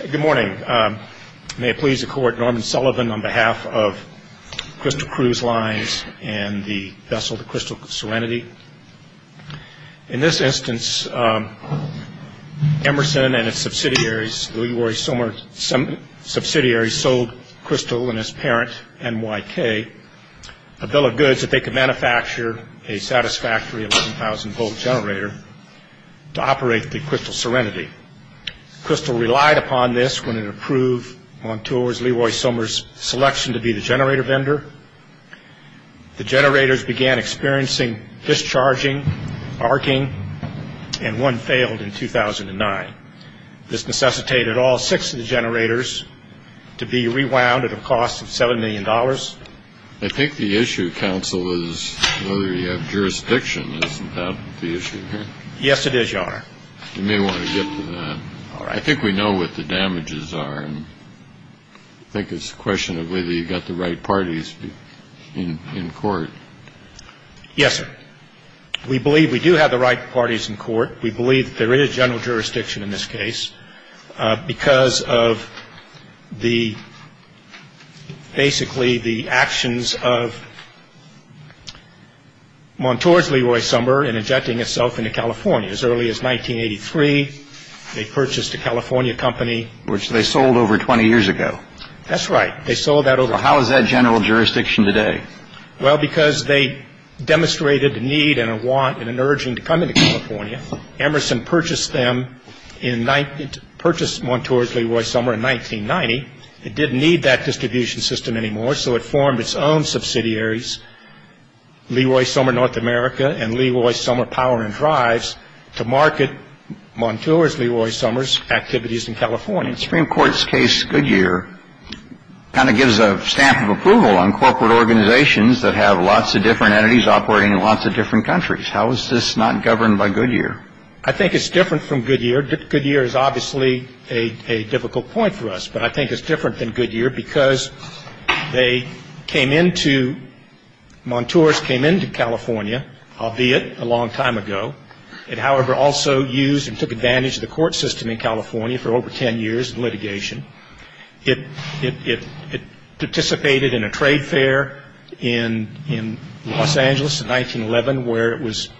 Good morning. May it please the Court, Norman Sullivan on behalf of Crystal Cruise Lines and the vessel, the Crystal Serenity. In this instance, Emerson and its subsidiaries, Leroy-Somer subsidiaries, sold Crystal and its parent, NYK, a bill of goods that they could manufacture a satisfactory 11,000-volt generator to operate the Crystal Serenity. Crystal relied upon this when it approved Moteurs Leroy-Somer's selection to be the generator vendor. The generators began experiencing discharging, arcing, and one failed in 2009. This necessitated all six of the generators to be rewound at a cost of $7 million. I think the issue, counsel, is whether you have jurisdiction. Isn't that the issue here? Yes, it is, Your Honor. You may want to get to that. All right. I think we know what the damages are, and I think it's a question of whether you've got the right parties in court. Yes, sir. We believe we do have the right parties in court. We believe that there is general jurisdiction in this case because of the basically the actions of Moteurs Leroy-Somer in injecting itself into California. As early as 1983, they purchased a California company. Which they sold over 20 years ago. That's right. They sold that over 20 years ago. How is that general jurisdiction today? Well, because they demonstrated a need and a want and an urging to come into California. Emerson purchased them in 19 — purchased Moteurs Leroy-Somer in 1990. It didn't need that distribution system anymore, so it formed its own subsidiaries, Leroy-Somer North America and Leroy-Somer Power and Drives, to market Moteurs Leroy-Somer's activities in California. The Supreme Court's case, Goodyear, kind of gives a stamp of approval on corporate organizations that have lots of different entities operating in lots of different countries. How is this not governed by Goodyear? I think it's different from Goodyear. Goodyear is obviously a difficult point for us, but I think it's different than Goodyear because they came into — Moteurs came into California albeit a long time ago. It, however, also used and took advantage of the court system in California for over 10 years in litigation. It participated in a trade fair in Los Angeles in 1911, where it was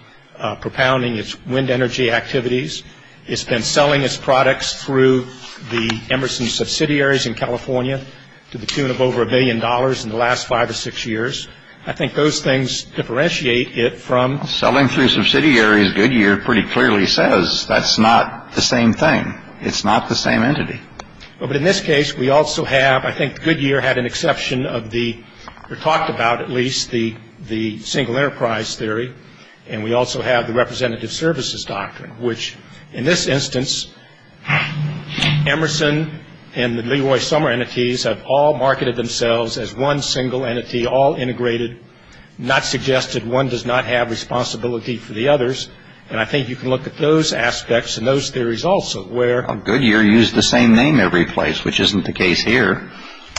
propounding its wind energy activities. It's been selling its products through the Emerson subsidiaries in California to the tune of over a billion dollars in the last five or six years. I think those things differentiate it from — Selling through subsidiaries, Goodyear pretty clearly says, that's not the same thing. It's not the same entity. But in this case, we also have — I think Goodyear had an exception of the — or talked about, at least, the single enterprise theory, and we also have the representative services doctrine, which, in this instance, Emerson and the Leroy-Somer entities have all marketed themselves as one single entity, all integrated, not suggested. One does not have responsibility for the others. And I think you can look at those aspects and those theories also, where — Well, Goodyear used the same name every place, which isn't the case here.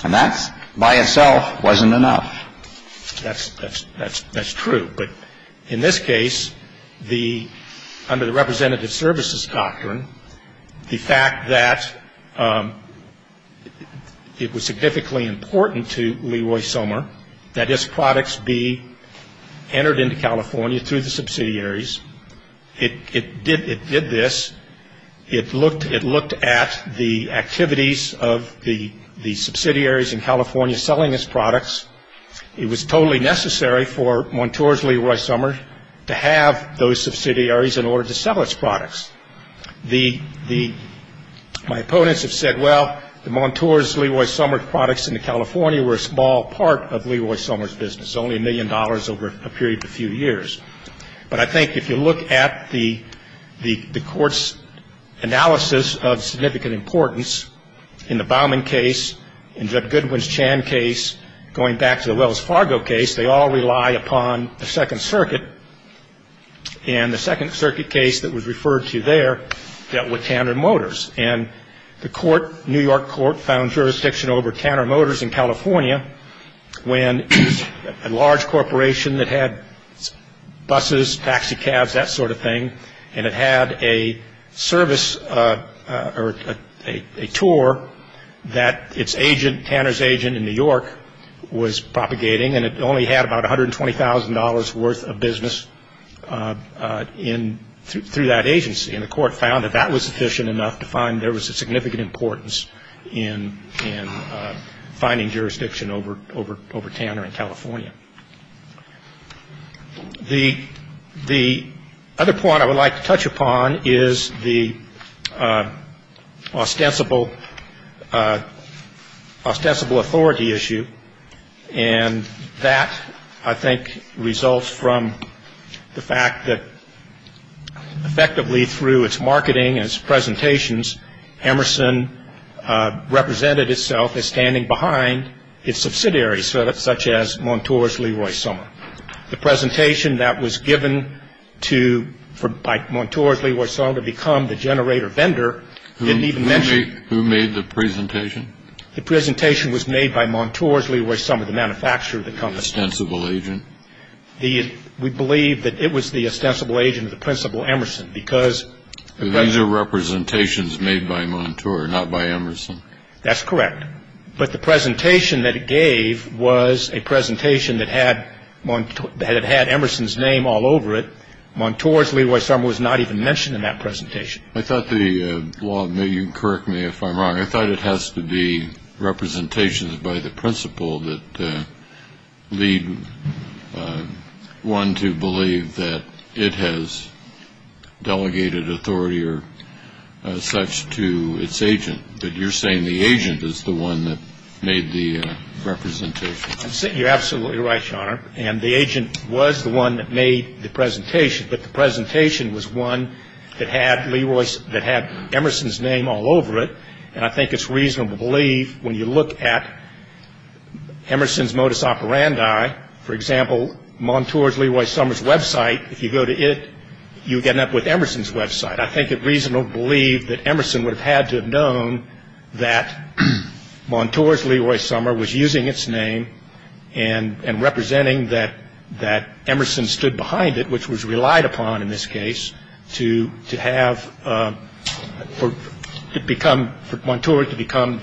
And that's, by itself, wasn't enough. That's — that's true. But in this case, the — under the representative services doctrine, the fact that it was significantly important to Leroy-Somer that his products be entered into California through the subsidiaries, it did — it did this. It looked — it looked at the activities of the subsidiaries in California selling his products. It was totally necessary for Montour's Leroy-Somer to have those subsidiaries in order to sell its products. The — the — my opponents have said, well, the Montour's Leroy-Somer products into California were a small part of Leroy-Somer's business, only $1 million over a period of a few years. But I think if you look at the — the court's analysis of significant importance in the upon the Second Circuit. And the Second Circuit case that was referred to there dealt with Tanner Motors. And the court, New York court, found jurisdiction over Tanner Motors in California when a large corporation that had buses, taxicabs, that sort of thing, and it had a service — or a tour that its agent, Tanner's agent in New York, was propagating. And it only had about $120,000 worth of business in — through that agency. And the court found that that was sufficient enough to find there was a significant importance in — in finding jurisdiction over — over — over Tanner in California. The — the other point I would like to touch upon is the ostensible — ostensible authority issue. And that, I think, results from the fact that effectively through its marketing and its presentations, Emerson represented itself as standing behind its subsidiaries, such as Montour's Leroy-Somer. The presentation that was given to — by Montour's Leroy-Somer to become the generator vendor didn't even mention — Who made — who made the presentation? The presentation was made by Montour's Leroy-Somer, the manufacturer of the company. The ostensible agent? We believe that it was the ostensible agent of the principal, Emerson, because — These are representations made by Montour, not by Emerson. That's correct. But the presentation that it gave was a presentation that had Montour — that had Emerson's name all over it. Montour's Leroy-Somer was not even mentioned in that presentation. I thought the law — you can correct me if I'm wrong — I thought it has to be representations by the principal that lead one to believe that it has delegated authority or such to its agent. But you're saying the agent is the one that made the representation. You're absolutely right, Your Honor. And the agent was the one that made the presentation. But the presentation was one that had Leroy's — that had Emerson's name all over it. And I think it's reasonable to believe when you look at Emerson's modus operandi, for example, Montour's Leroy-Somer's website, if you go to it, you end up with Emerson's website. I think it's reasonable to believe that Emerson would have had to have known that Montour's Leroy-Somer was using its name and representing that Emerson stood behind it, which was relied upon in this case to have — for Montour to become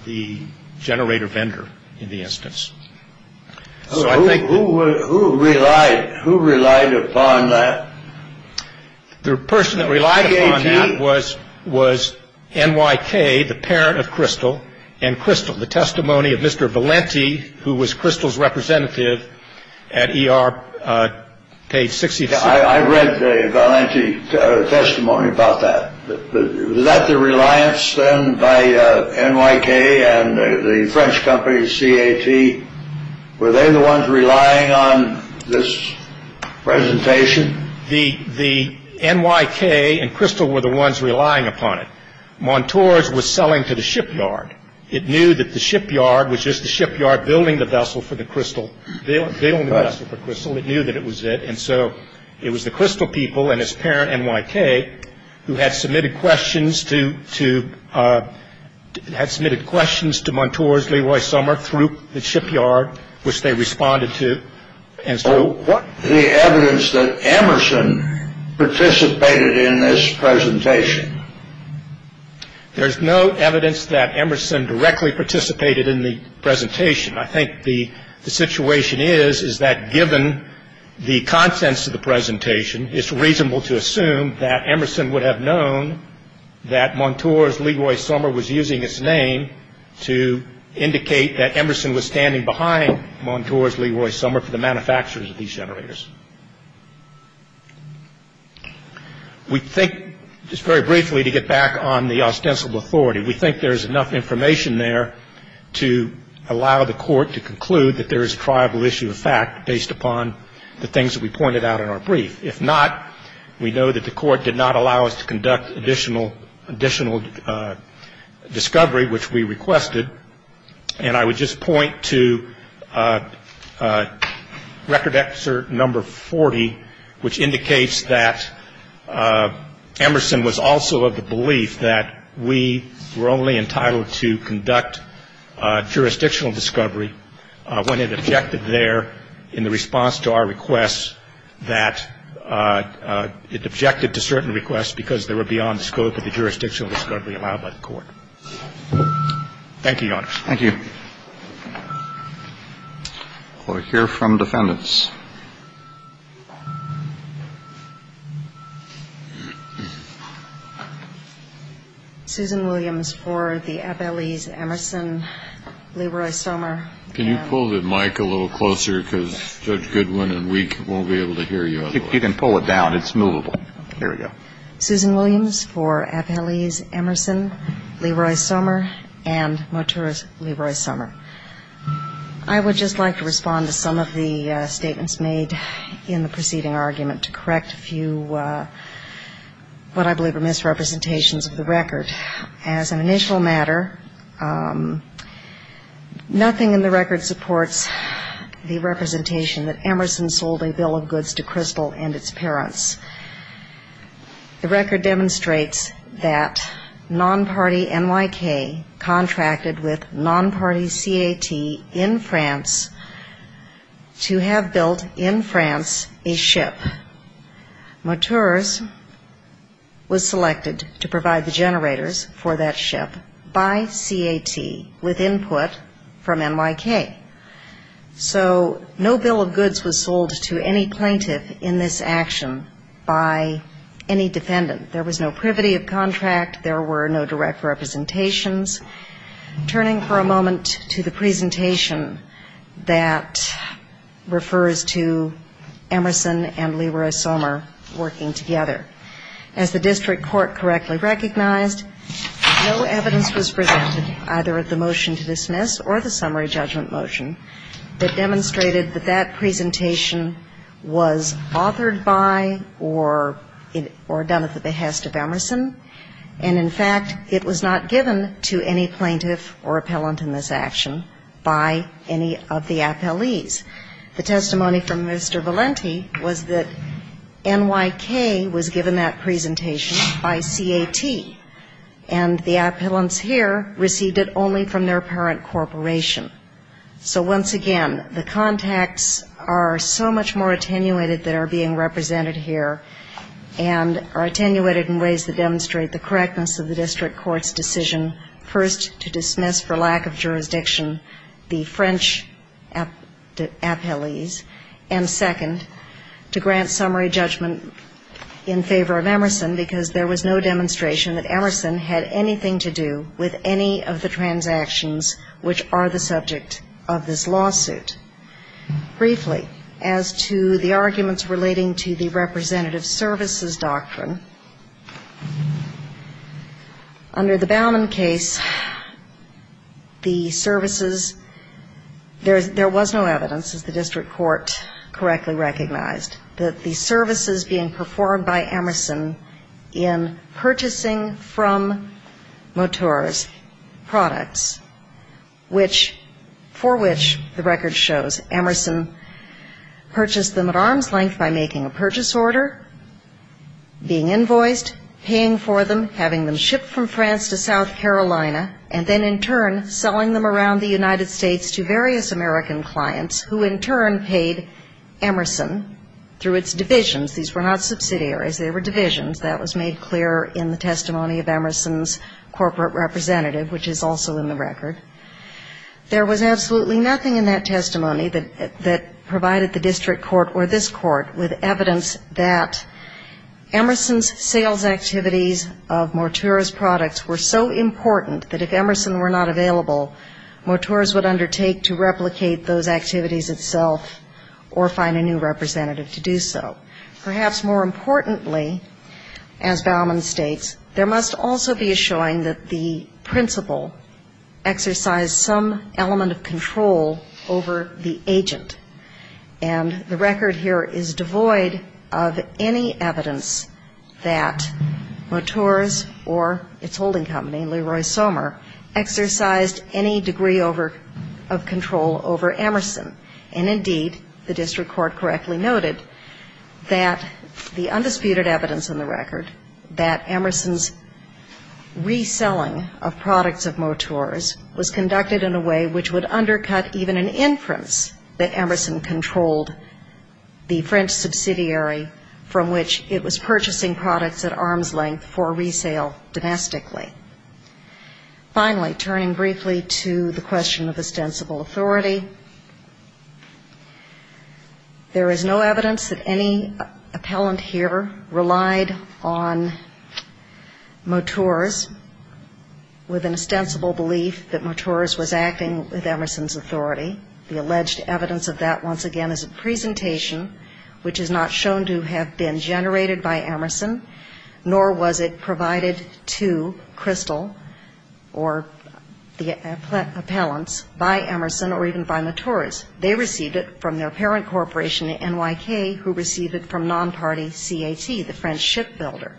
the generator vendor in the instance. So who relied upon that? The person that relied upon that was N.Y.K., the parent of Crystal, and Crystal, the testimony of Mr. Valenti, who was Crystal's representative at E.R. page 66. I read the Valenti testimony about that. Was that the reliance then by N.Y.K. and the French company C.A.T.? Were they the ones relying on this presentation? The N.Y.K. and Crystal were the ones relying upon it. Montour's was selling to the shipyard. It knew that the shipyard was just the shipyard building the vessel for the Crystal. They owned the vessel for Crystal. It knew that it was it, and so it was the Crystal people and its parent, N.Y.K., who had submitted questions to — had submitted questions to Montour's Leroy-Somer through the shipyard, which they responded to, and so — So what's the evidence that Emerson participated in this presentation? There's no evidence that Emerson directly participated in the presentation. I think the situation is, is that given the contents of the presentation, it's reasonable to assume that Emerson would have known that Montour's Leroy-Somer was using its name to indicate that Emerson was standing behind Montour's Leroy-Somer for the manufacture of these generators. We think — just very briefly to get back on the ostensible authority — we think there's enough information there to allow the court to conclude that there is a triable issue of fact based upon the things that we pointed out in our brief. If not, we know that the court did not allow us to conduct additional discovery, which we requested, and I would just point to record excerpt number 40, which indicates that Emerson was also of the belief that we were only entitled to conduct jurisdictional discovery when it objected there in the response to our request that — it objected to certain requests because they were beyond the scope of the jurisdictional discovery allowed by the court. Thank you, Your Honor. Thank you. We'll hear from defendants. Susan Williams for the Appellees Emerson, Leroy-Somer. Can you pull the mic a little closer because Judge Goodwin and we won't be able to hear you otherwise. You can pull it down. It's movable. Susan Williams for Appellees Emerson, Leroy-Somer. I would just like to respond to some of the statements made in the preceding argument to correct a few what I believe are misrepresentations of the record. As an initial matter, nothing in the record supports the representation that Emerson sold a bill of goods to Crystal and its parents. The record demonstrates that non-party and non-governmental N.Y.K. contracted with non-party C.A.T. in France to have built in France a ship. Moteurs was selected to provide the generators for that ship by C.A.T. with input from N.Y.K. So no bill of goods was sold to any plaintiff in this action by any defendant. There was no privity of contract. There were no direct representations. Turning for a moment to the presentation that refers to Emerson and Leroy-Somer working together. As the district court correctly recognized, no evidence was presented either of the motion to dismiss or the summary judgment motion that demonstrated that that presentation was authored by or done at the behest of Emerson. And in fact, it was not given to any plaintiff or appellant in this action by any of the appellees. The testimony from Mr. Valenti was that N.Y.K. was given that presentation by C.A.T. and the appellants here received it only from their parent corporation. So once again, the contacts are so much more attenuated that are being represented here and are attenuated in ways that demonstrate the correctness of the district court's decision, first, to dismiss for lack of jurisdiction the French appellees, and second, to grant summary judgment in favor of Emerson because there was no demonstration that Emerson had anything to do with any of the transactions which are the subject of this case. Now, in the case of the Bowman case, there was no evidence, as the district court correctly recognized, that the services being performed by Emerson in purchasing from Mottur's products, for which the record shows Emerson purchased them at arm's length by making a purchase order, being invoiced, paying for them, having them shipped from France to South Carolina, and then in turn selling them around the United States to various American clients who in turn paid Emerson through its divisions. These were not subsidiaries. They were divisions. That was made clear in the testimony of Emerson's corporate representative, which is also in the record. There was absolutely nothing in that testimony that provided the district court or this court with evidence that Emerson's sales activities of Mottur's products were so important that if Emerson were not available, Mottur's would undertake to replicate those activities itself or find a new representative to do so. Perhaps more importantly, as Bowman states, there must also be a showing that the principal exercised some element of control over the agent. And the record here is devoid of any evidence that Mottur's or its holding company, Leroy Somer, exercised any degree of control over Emerson. And indeed, the district court correctly noted that the undisputed evidence in the record that Emerson's reselling of products of Mottur's was conducted in a way which would undercut even an inference that Emerson controlled the French subsidiary from which it was purchasing products at arm's length for resale domestically. Finally, turning briefly to the question of ostensible authority, there is no evidence that any appellant here relied on Mottur's with an ostensible belief that Mottur's was acting with Emerson's authority. The alleged evidence of that, once again, is a presentation which is not shown to have been generated by Emerson, nor was it provided to Crystal or the appellants by Emerson or even by Mottur's. They received it from their parent corporation, NYK, who received it from non-party CAT, the French shipbuilder.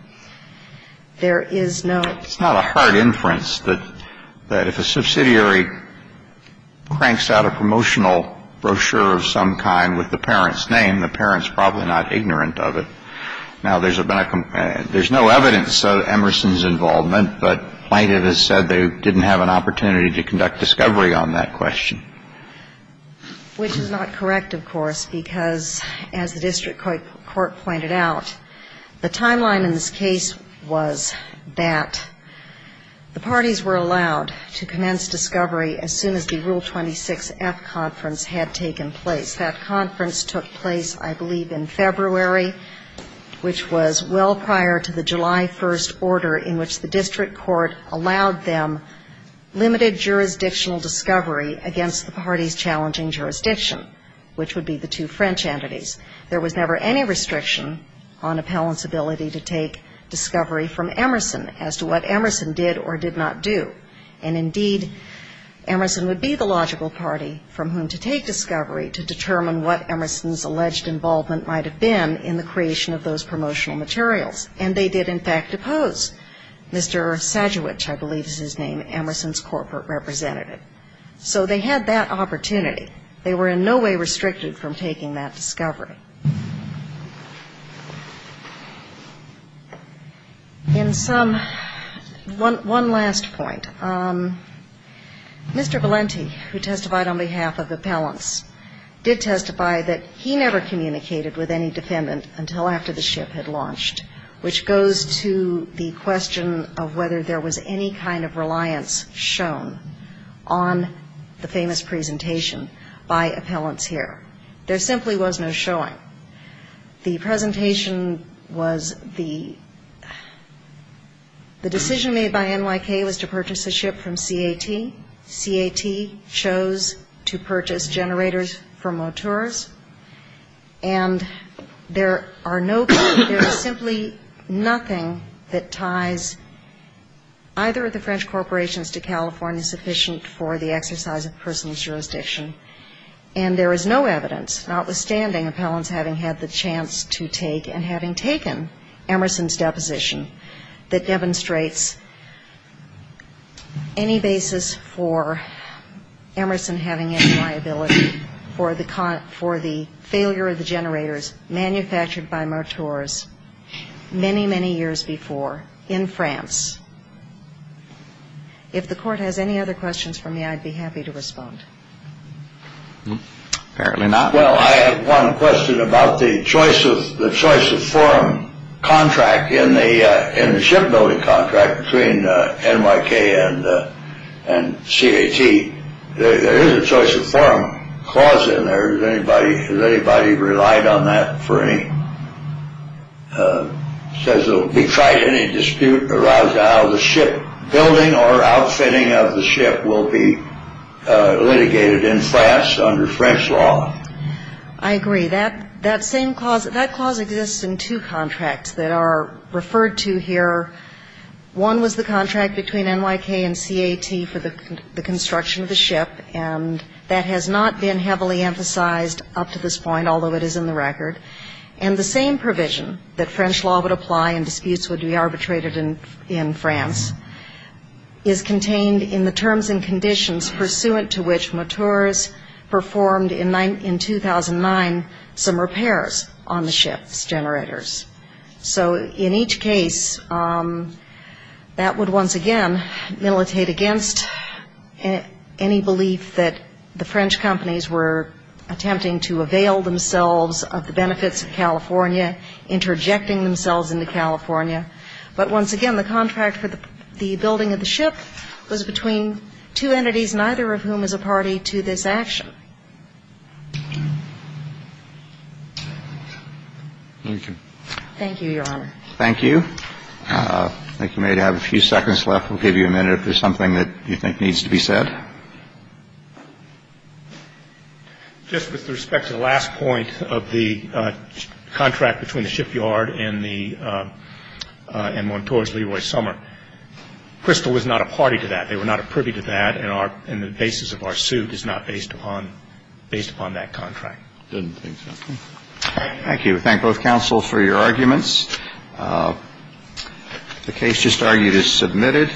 There is no ---- It's not a hard inference that if a subsidiary cranks out a promotional brochure of some kind with the parent's name, the parent's probably not ignorant of it. Now, there's no evidence of Emerson's involvement, but plaintiff has said they didn't have an opportunity to conduct discovery on that question. Which is not correct, of course, because as the district court pointed out, the timeline in this case was that the parties were allowed to commence discovery as soon as the Rule 26F conference had taken place. That conference took place, I believe, in February, which was well prior to the July 1st order, in which the district court allowed them limited jurisdictional discovery against the party's challenging jurisdiction, which would be the two French entities. There was never any restriction on appellants' ability to take discovery from Emerson as to what Emerson did or did not do. And indeed, Emerson would be the logical party from whom to take discovery to determine what Emerson's alleged involvement might have been in the creation of those promotional materials. And they did, in fact, depose Mr. Sadewich, I believe is his name, Emerson's corporate representative. So they had that opportunity. They were in no way restricted from taking that discovery. In sum, one last point. Mr. Valenti, who testified on behalf of appellants, did testify on behalf of appellants, did testify that he never communicated with any defendant until after the ship had launched, which goes to the question of whether there was any kind of reliance shown on the famous presentation by appellants here. There simply was no showing. The presentation was the decision made by NYK was to purchase a ship from CAT. CAT chose to purchase the generators from Moteurs. And there are no, there is simply nothing that ties either of the French corporations to California sufficient for the exercise of personal jurisdiction. And there is no evidence, notwithstanding appellants having had the chance to take and having taken Emerson's deposition, that demonstrates any basis for Emerson having any liability. For the failure of the generators manufactured by Moteurs many, many years before in France. If the court has any other questions for me, I'd be happy to respond. Well, I have one question about the choice of forum contract in the shipbuilding contract between NYK and CAT. There is a choice of forum clause in there. Has anybody relied on that for any, says it will be tried in any dispute arousal, the shipbuilding or outfitting of the ship will be litigated in France under French law. I agree. That same clause, that clause exists in two contracts that are referred to here. One was the contract between NYK and CAT for the construction of the ship, and that has not been heavily emphasized up to this point, although it is in the record. And the same provision that French law would apply and disputes would be arbitrated in France is contained in the terms and conditions pursuant to which Moteurs performed in 2009 some repairs on the ship's generators. So in each case, that would once again militate against any belief that the French companies were attempting to avail themselves of the benefits of California, interjecting themselves into California. But once again, the contract for the building of the ship was between two entities, neither of whom is a party to this action. Thank you. Thank you, Your Honor. Thank you. I think you may have a few seconds left. We'll give you a minute if there's something that you think needs to be said. Just with respect to the last point of the contract between the shipyard and the Moteurs Leroy Summer, Crystal was not a party to that. They were not a privy to that, and the basis of our suit is not based upon that contract. Didn't think so.